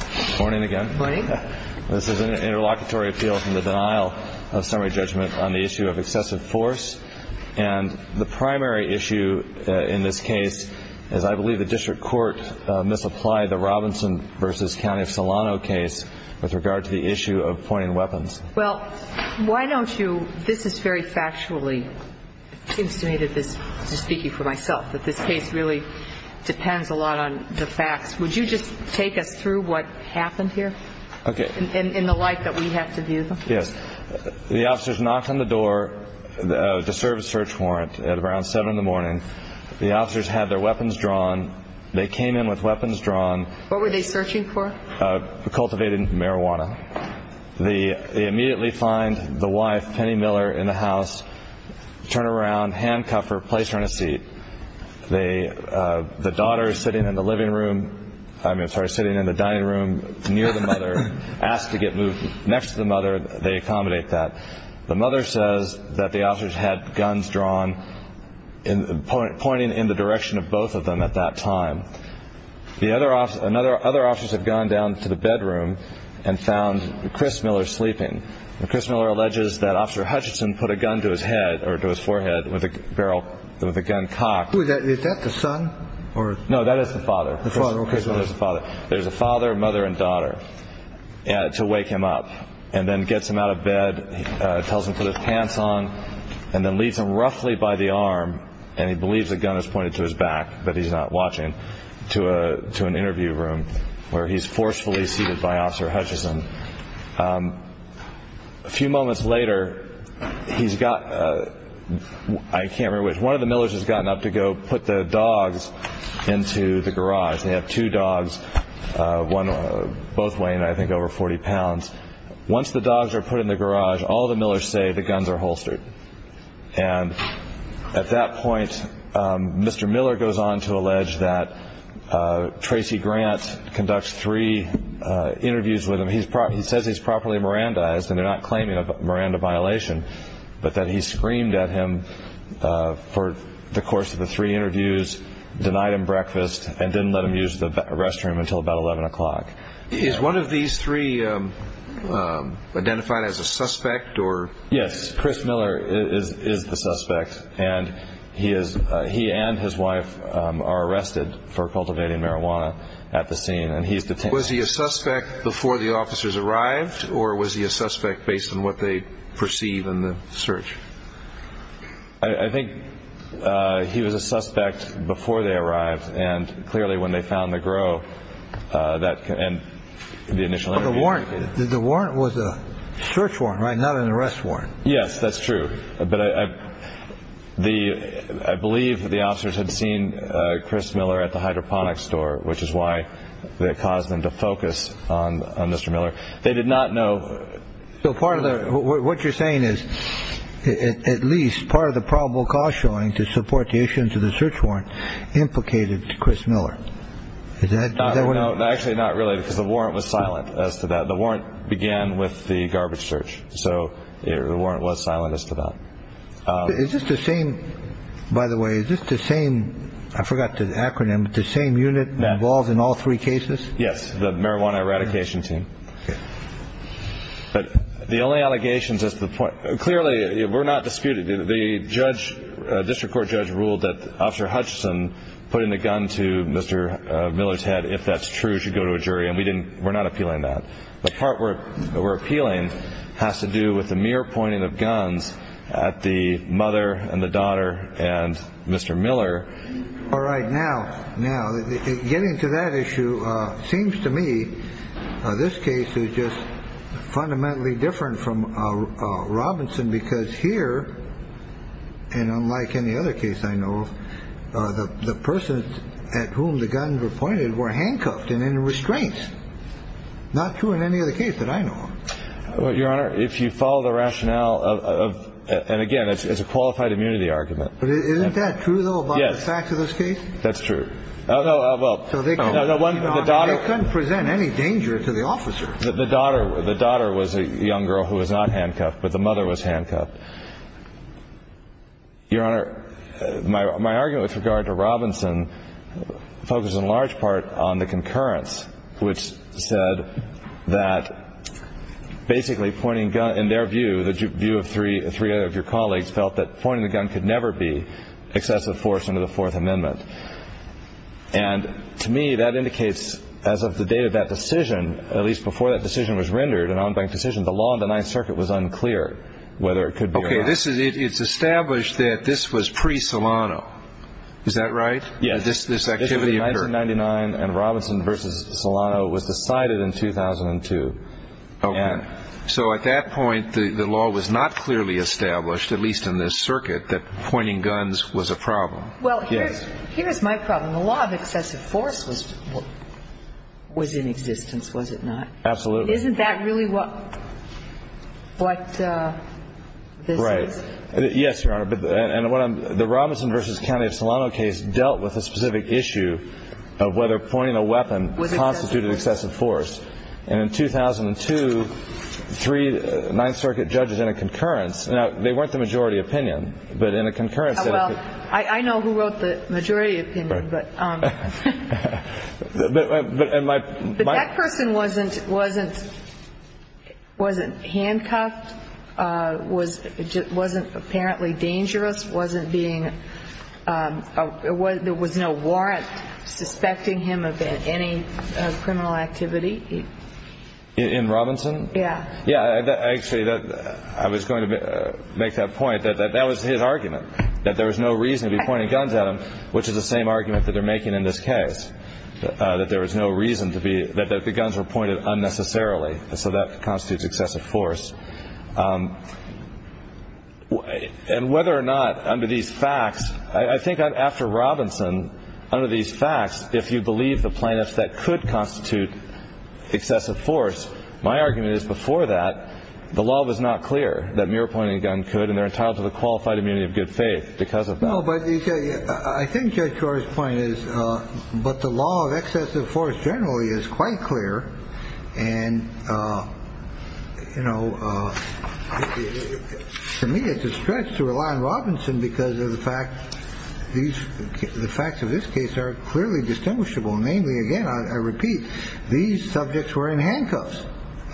Good morning again. This is an interlocutory appeal from the denial of summary judgment on the issue of excessive force. And the primary issue in this case is I believe the district court misapplied the Robinson v. County of Solano case with regard to the issue of pointing weapons. Well, why don't you, this is very factually, it seems to me that this, this is speaking for myself, that this case really depends a lot on the facts. Would you just take us through what happened here? Okay. In the light that we have to view? Yes. The officers knocked on the door to serve a search warrant at around 7 in the morning. The officers had their weapons drawn. They came in with weapons drawn. What were they searching for? Cultivated marijuana. They immediately find the wife, Penny Miller, in the house, turn her around, handcuff her, place her in a seat. They, the daughter is sitting in the living room, I mean, sorry, sitting in the dining room near the mother, asked to get moved next to the mother. They accommodate that. The mother says that the officers had guns drawn, pointing in the direction of both of them at that time. The other officers, another, other officers have gone down to the bedroom and found Chris Miller sleeping. Chris Miller alleges that Officer Hutchinson put a gun to his head or to his forehead with a barrel with a gun cocked. Is that the son or? No, that is the father. The father, okay. There's a father, mother and daughter to wake him up and then gets him out of bed, tells him to put his pants on and then leads him roughly by the arm and he believes the gun is pointed to his back, but he's not watching, to an interview room where he's forcefully seated by Officer Hutchinson. A few moments later, he's got, I can't remember which, one of the Millers has gotten up to go put the dogs into the garage. They have two dogs, both weighing I think over 40 pounds. Once the dogs are put in the garage, all the dogs are put in the garage. Chris Miller goes on to allege that Tracy Grant conducts three interviews with him. He says he's properly Mirandized and they're not claiming a Miranda violation, but that he screamed at him for the course of the three interviews, denied him breakfast and didn't let him use the restroom until about 11 o'clock. Is one of these three identified as a suspect or? Yes, Chris Miller is the suspect and he is, he and his wife are arrested for cultivating marijuana at the scene and he's detained. Was he a suspect before the officers arrived or was he a suspect based on what they perceive in the search? I think he was a suspect before they arrived and clearly when they found the grow and the initial interview. The warrant was a search warrant, right? Not an arrest warrant. Yes, that's true. But I believe that the officers had seen Chris Miller at the hydroponics store, which is why that caused them to focus on Mr. Miller. They did not know. So part of what you're saying is at least part of the probable cause showing to support the issuance of the search warrant implicated Chris Miller. No, actually not really because the warrant was silent as to that. The warrant began with the garbage search, so the warrant was silent as to that. Is this the same, by the way, is this the same, I forgot the acronym, the same unit that involves in all three cases? Yes, the marijuana eradication team. But the only allegations as to the point, clearly we're not disputed. The judge, district court judge, ruled that Officer Hutchison put in a gun to Mr. Miller's head. If that's true, you should go to a jury. And we didn't. We're not appealing that. The part where we're appealing has to do with the mere pointing of guns at the mother and the daughter and Mr. Miller. All right. Now, now getting to that issue seems to me this case is just fundamentally different from Robinson, because here and unlike any other case I know of, the person at whom the guns were pointed were handcuffed and in restraints. Not true in any other case that I know of. Well, Your Honor, if you follow the rationale of, and again, it's a qualified immunity argument. But isn't that true, though, about the facts of this case? That's true. Oh, no. Well, they couldn't present any danger to the officer. The daughter was a young girl who was not handcuffed, but the mother was handcuffed. Your Honor, my argument with regard to Robinson focuses in large part on the concurrence, which said that basically pointing guns, in their view, the view of three of your colleagues, felt that pointing the gun could never be excessive force under the Fourth Amendment. And to me, that indicates, as of the date of that decision, at least before that decision was rendered, an on-bank decision, the law in the Ninth Circuit was unclear whether it could be or not. Okay. It's established that this was pre-Solano. Is that right? Yes. This activity occurred. This was 1999, and Robinson v. Solano was decided in 2002. Okay. So at that point, the law was not clearly established, at least in this circuit, that pointing guns was a problem. Well, here's my problem. The law of excessive force was in existence, was it not? Absolutely. Isn't that really what this is? Right. Yes, Your Honor. And the Robinson v. County of Solano case dealt with a specific issue of whether pointing a weapon constituted excessive force. And in 2002, three Ninth Circuit judges in a concurrence Now, they weren't the majority opinion, but in a concurrence Well, I know who wrote the majority opinion, but That person wasn't handcuffed, wasn't apparently dangerous, wasn't being there was no warrant suspecting him of any criminal activity. In Robinson? Yeah. Actually, I was going to make that point, that that was his argument, that there was no reason to be pointing guns at him, which is the same argument that they're making in this case, that there was no reason to be that the guns were pointed unnecessarily. So that constitutes excessive force. And whether or not under these facts, I think that after Robinson, under these facts, if you believe the plaintiffs that could constitute excessive force, my argument is before that the law was not clear that mere pointing a gun could and they're entitled to the qualified immunity of good faith because of that. I think your point is, but the law of excessive force generally is quite clear. And, you know, to me, it's a stretch to rely on Robinson because of the fact these the facts of this case are clearly distinguishable. Namely, again, I repeat, these subjects were in handcuffs,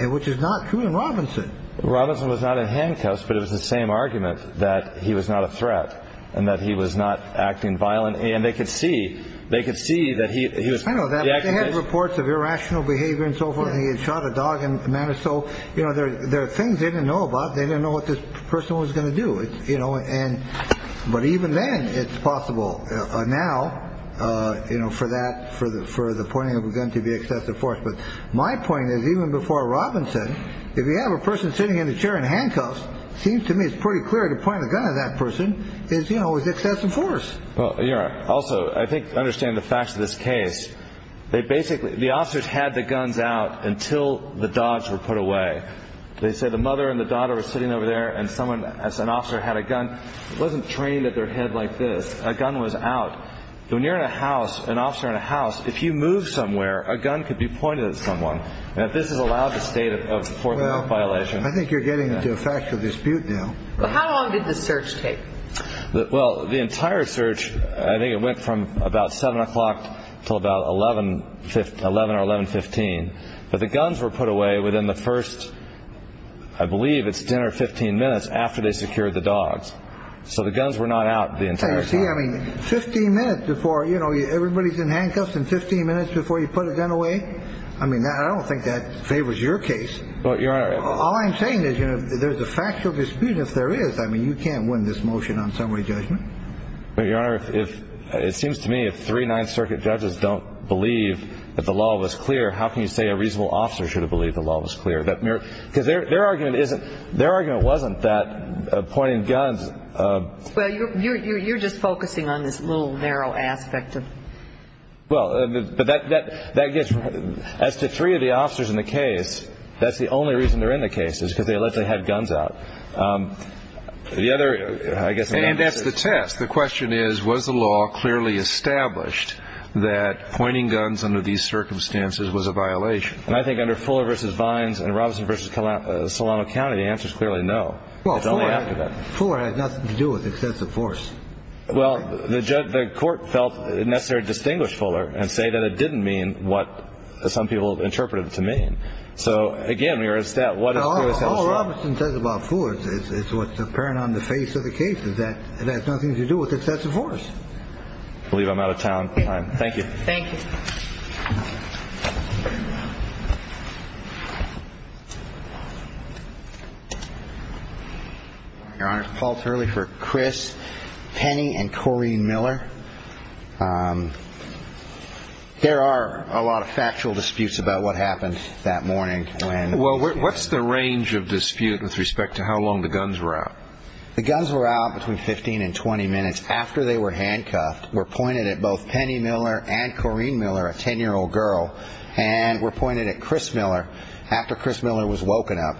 which is not true in Robinson. Robinson was not in handcuffs, but it was the same argument that he was not a threat and that he was not acting violent. And they could see they could see that he had reports of irrational behavior and so forth. He had shot a dog in a manner. So, you know, there are things they didn't know about. They didn't know what this person was going to do. You know, and but even then it's possible now, you know, for that for the for the pointing of a gun to be excessive force. But my point is, even before Robinson, if you have a person sitting in a chair in handcuffs, seems to me it's pretty clear to point a gun at that person is, you know, is excessive force. Well, you're also I think understand the facts of this case. They basically the officers had the guns out until the dogs were put away. They said the mother and the daughter was sitting over there and someone as an officer had a gun wasn't trained at their head like this. A gun was out. When you're in a house, an officer in a house, if you move somewhere, a gun could be pointed at someone. Now, this is allowed the state of the fourth violation. I think you're getting into a factual dispute now. But how long did the search take? Well, the entire search, I think it went from about seven o'clock till about 11, 11 or 11, 15. But the guns were put away within the first, I believe it's dinner 15 minutes after they secured the dogs. So the guns were not out the entire day. I mean, 15 minutes before, you know, everybody's in handcuffs and 15 minutes before you put a gun away. I mean, I don't think that favors your case. All I'm saying is, you know, there's a factual dispute. If there is, I mean, you can't win this motion on summary judgment. It seems to me if three Ninth Circuit judges don't believe that the law was clear, how can you say a reasonable officer should have believed the law was clear? Because their argument wasn't that pointing guns. Well, you're just focusing on this little narrow aspect of. Well, but that gets as to three of the officers in the case. That's the only reason they're in the case is because they let they had guns out. The other I guess. And that's the test. The question is, was the law clearly established that pointing guns under these circumstances was a violation? And I think under Fuller versus Vines and Robinson versus Solano County answers clearly no. Well, it's only after that. Fuller has nothing to do with excessive force. Well, the judge, the court felt necessary, distinguished Fuller and say that it didn't mean what some people interpreted it to mean. So again, we are a step. What I said about Ford is what's apparent on the face of the case is that it has nothing to do with excessive force. Believe I'm out of town. Thank you. Thank you. Your Honor, false early for Chris Penny and Corrine Miller. There are a lot of factual disputes about what happened that morning. Well, what's the range of dispute with respect to how long the guns were out? The guns were out between 15 and 20 minutes after they were handcuffed. We're pointed at both Penny Miller and Corrine Miller, a 10 year old girl. And we're pointed at Chris Miller after Chris Miller was woken up.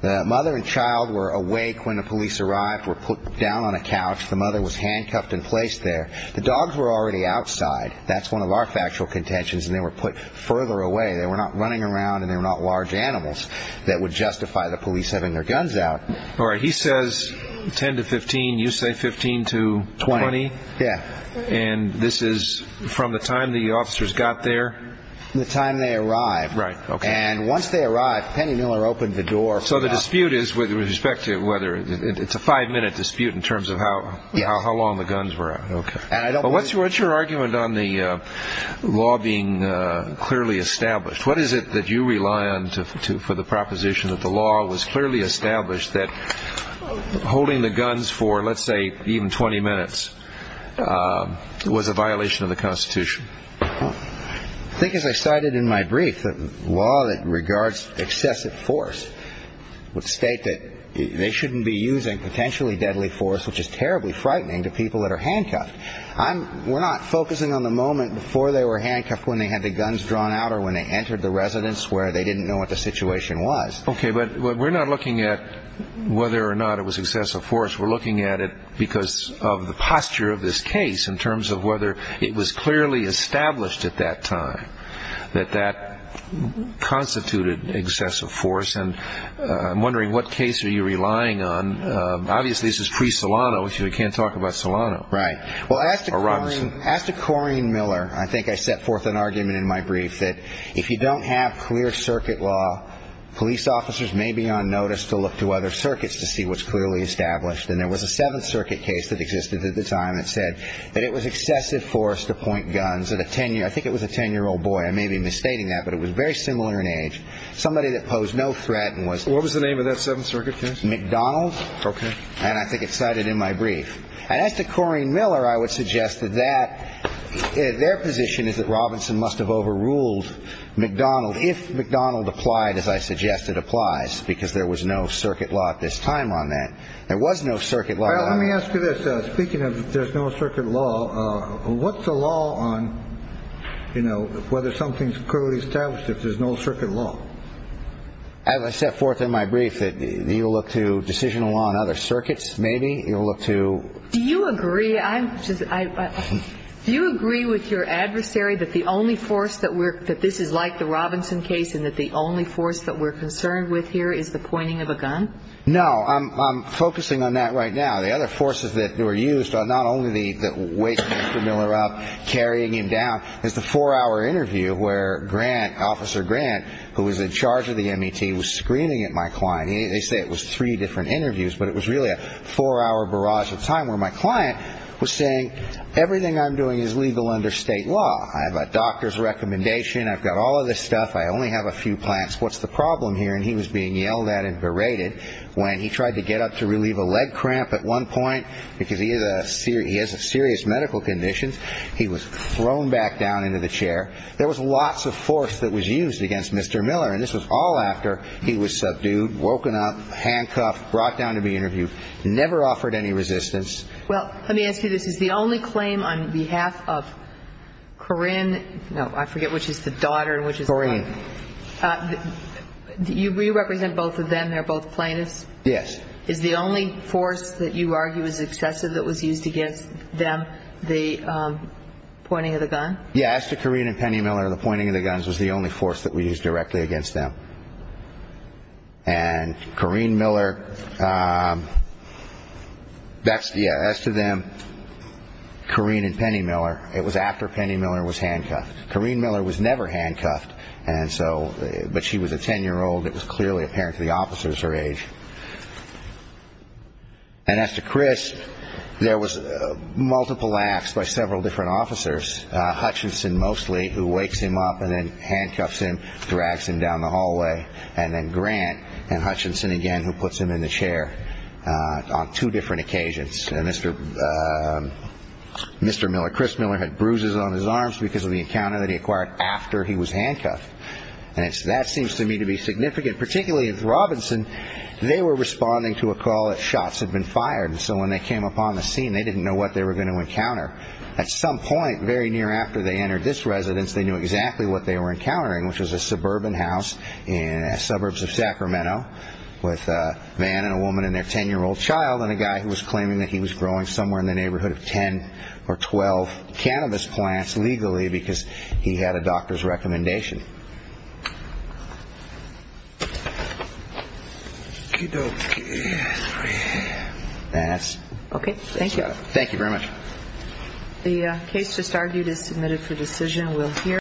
The mother and child were awake when the police arrived, were put down on a couch. The mother was handcuffed and placed there. The dogs were already outside. That's one of our factual contentions. And they were put further away. They were not running around and they were not large animals that would justify the police having their guns out. All right. He says 10 to 15. You say 15 to 20. Yeah. And this is from the time the officers got there, the time they arrived. Right. OK. And once they arrived, Penny Miller opened the door. So the dispute is with respect to whether it's a five minute dispute in terms of how long the guns were. OK. And I don't know what's what's your argument on the law being clearly established. What is it that you rely on to for the proposition that the law was clearly established that holding the guns for, let's say, even 20 minutes was a violation of the Constitution? I think as I cited in my brief, the law that regards excessive force would state that they shouldn't be using potentially deadly force, which is terribly frightening to people that are handcuffed. We're not focusing on the moment before they were handcuffed when they had the guns drawn out or when they entered the residence where they didn't know what the I'm looking at it because of the posture of this case in terms of whether it was clearly established at that time that that constituted excessive force. And I'm wondering what case are you relying on? Obviously, this is pre Solano. So we can't talk about Solano. Right. Well, I asked to ask to Corrine Miller. I think I set forth an argument in my brief that if you don't have clear circuit law, police officers may be on notice to look to other circuits to see what's clearly established. And there was a Seventh Circuit case that existed at the time that said that it was excessive force to point guns at a tenure. I think it was a ten-year-old boy. I may be misstating that, but it was very similar in age. Somebody that posed no threat and was what was the name of that Seventh Circuit case? McDonald. Okay. And I think it's cited in my brief. And as to Corrine Miller, I would suggest that that their position is that Robinson must have overruled McDonald. If McDonald applied, as I suggest, it applies because there was no circuit law at this time on that. There was no circuit law. Let me ask you this. Speaking of there's no circuit law, what's the law on, you know, whether something's clearly established if there's no circuit law? As I set forth in my brief that you look to decisional on other circuits, maybe you'll look to... Do you agree? Do you agree with your adversary that the only force that this is like the Robinson case and that the only force that we're concerned with here is the pointing of a gun? No. I'm focusing on that right now. The other forces that were used are not only the weight of Mr. Miller up, carrying him down. There's the four-hour interview where Grant, Officer Grant, who was in charge of the MET, was screaming at my client. They say it was three different interviews, but it was really a four-hour barrage of time where my client was saying, everything I'm doing is legal under state law. I have a doctor's recommendation. I've got all of this stuff. I only have a few plants. What's the problem here? And he was being yelled at and berated when he tried to get up to relieve a leg cramp at one point because he has serious medical conditions. He was called after. He was subdued, woken up, handcuffed, brought down to be interviewed. Never offered any resistance. Well, let me ask you this. Is the only claim on behalf of Corrine... No, I forget which is the daughter and which is the... Corrine. Do you represent both of them? They're both plaintiffs? Yes. Is the only force that you argue is excessive that was used against them the pointing of the gun? Yeah, as to Corrine and Penny Miller, the pointing of the guns was the only force that we used directly against them. And Corrine Miller, that's, yeah, as to them, Corrine and Penny Miller, it was after Penny Miller was handcuffed. Corrine Miller was never handcuffed, and so, but she was a ten-year-old. It was clearly apparent to the officers her age. And as to Chris, there was multiple acts by several different officers, Hutchinson mostly, who wakes him up and then handcuffs him, drags him down the hallway, and then Grant and Hutchinson again who puts him in the chair on two different occasions. And Mr. Miller, Chris Miller, had bruises on his arms because of the encounter that he acquired after he was handcuffed. And that seems to me to be significant, particularly with Robinson. They were responding to a call that shots had been fired, and so when they came upon the scene, they didn't know what they were going to encounter. At some point, very near after they entered this residence, they knew exactly what they were encountering, which was a suburban house in suburbs of Sacramento with a man and a woman and their ten-year-old child and a guy who was claiming that he was growing somewhere in the neighborhood of ten or twelve cannabis plants legally because he had a doctor's recommendation. That's it. Thank you very much.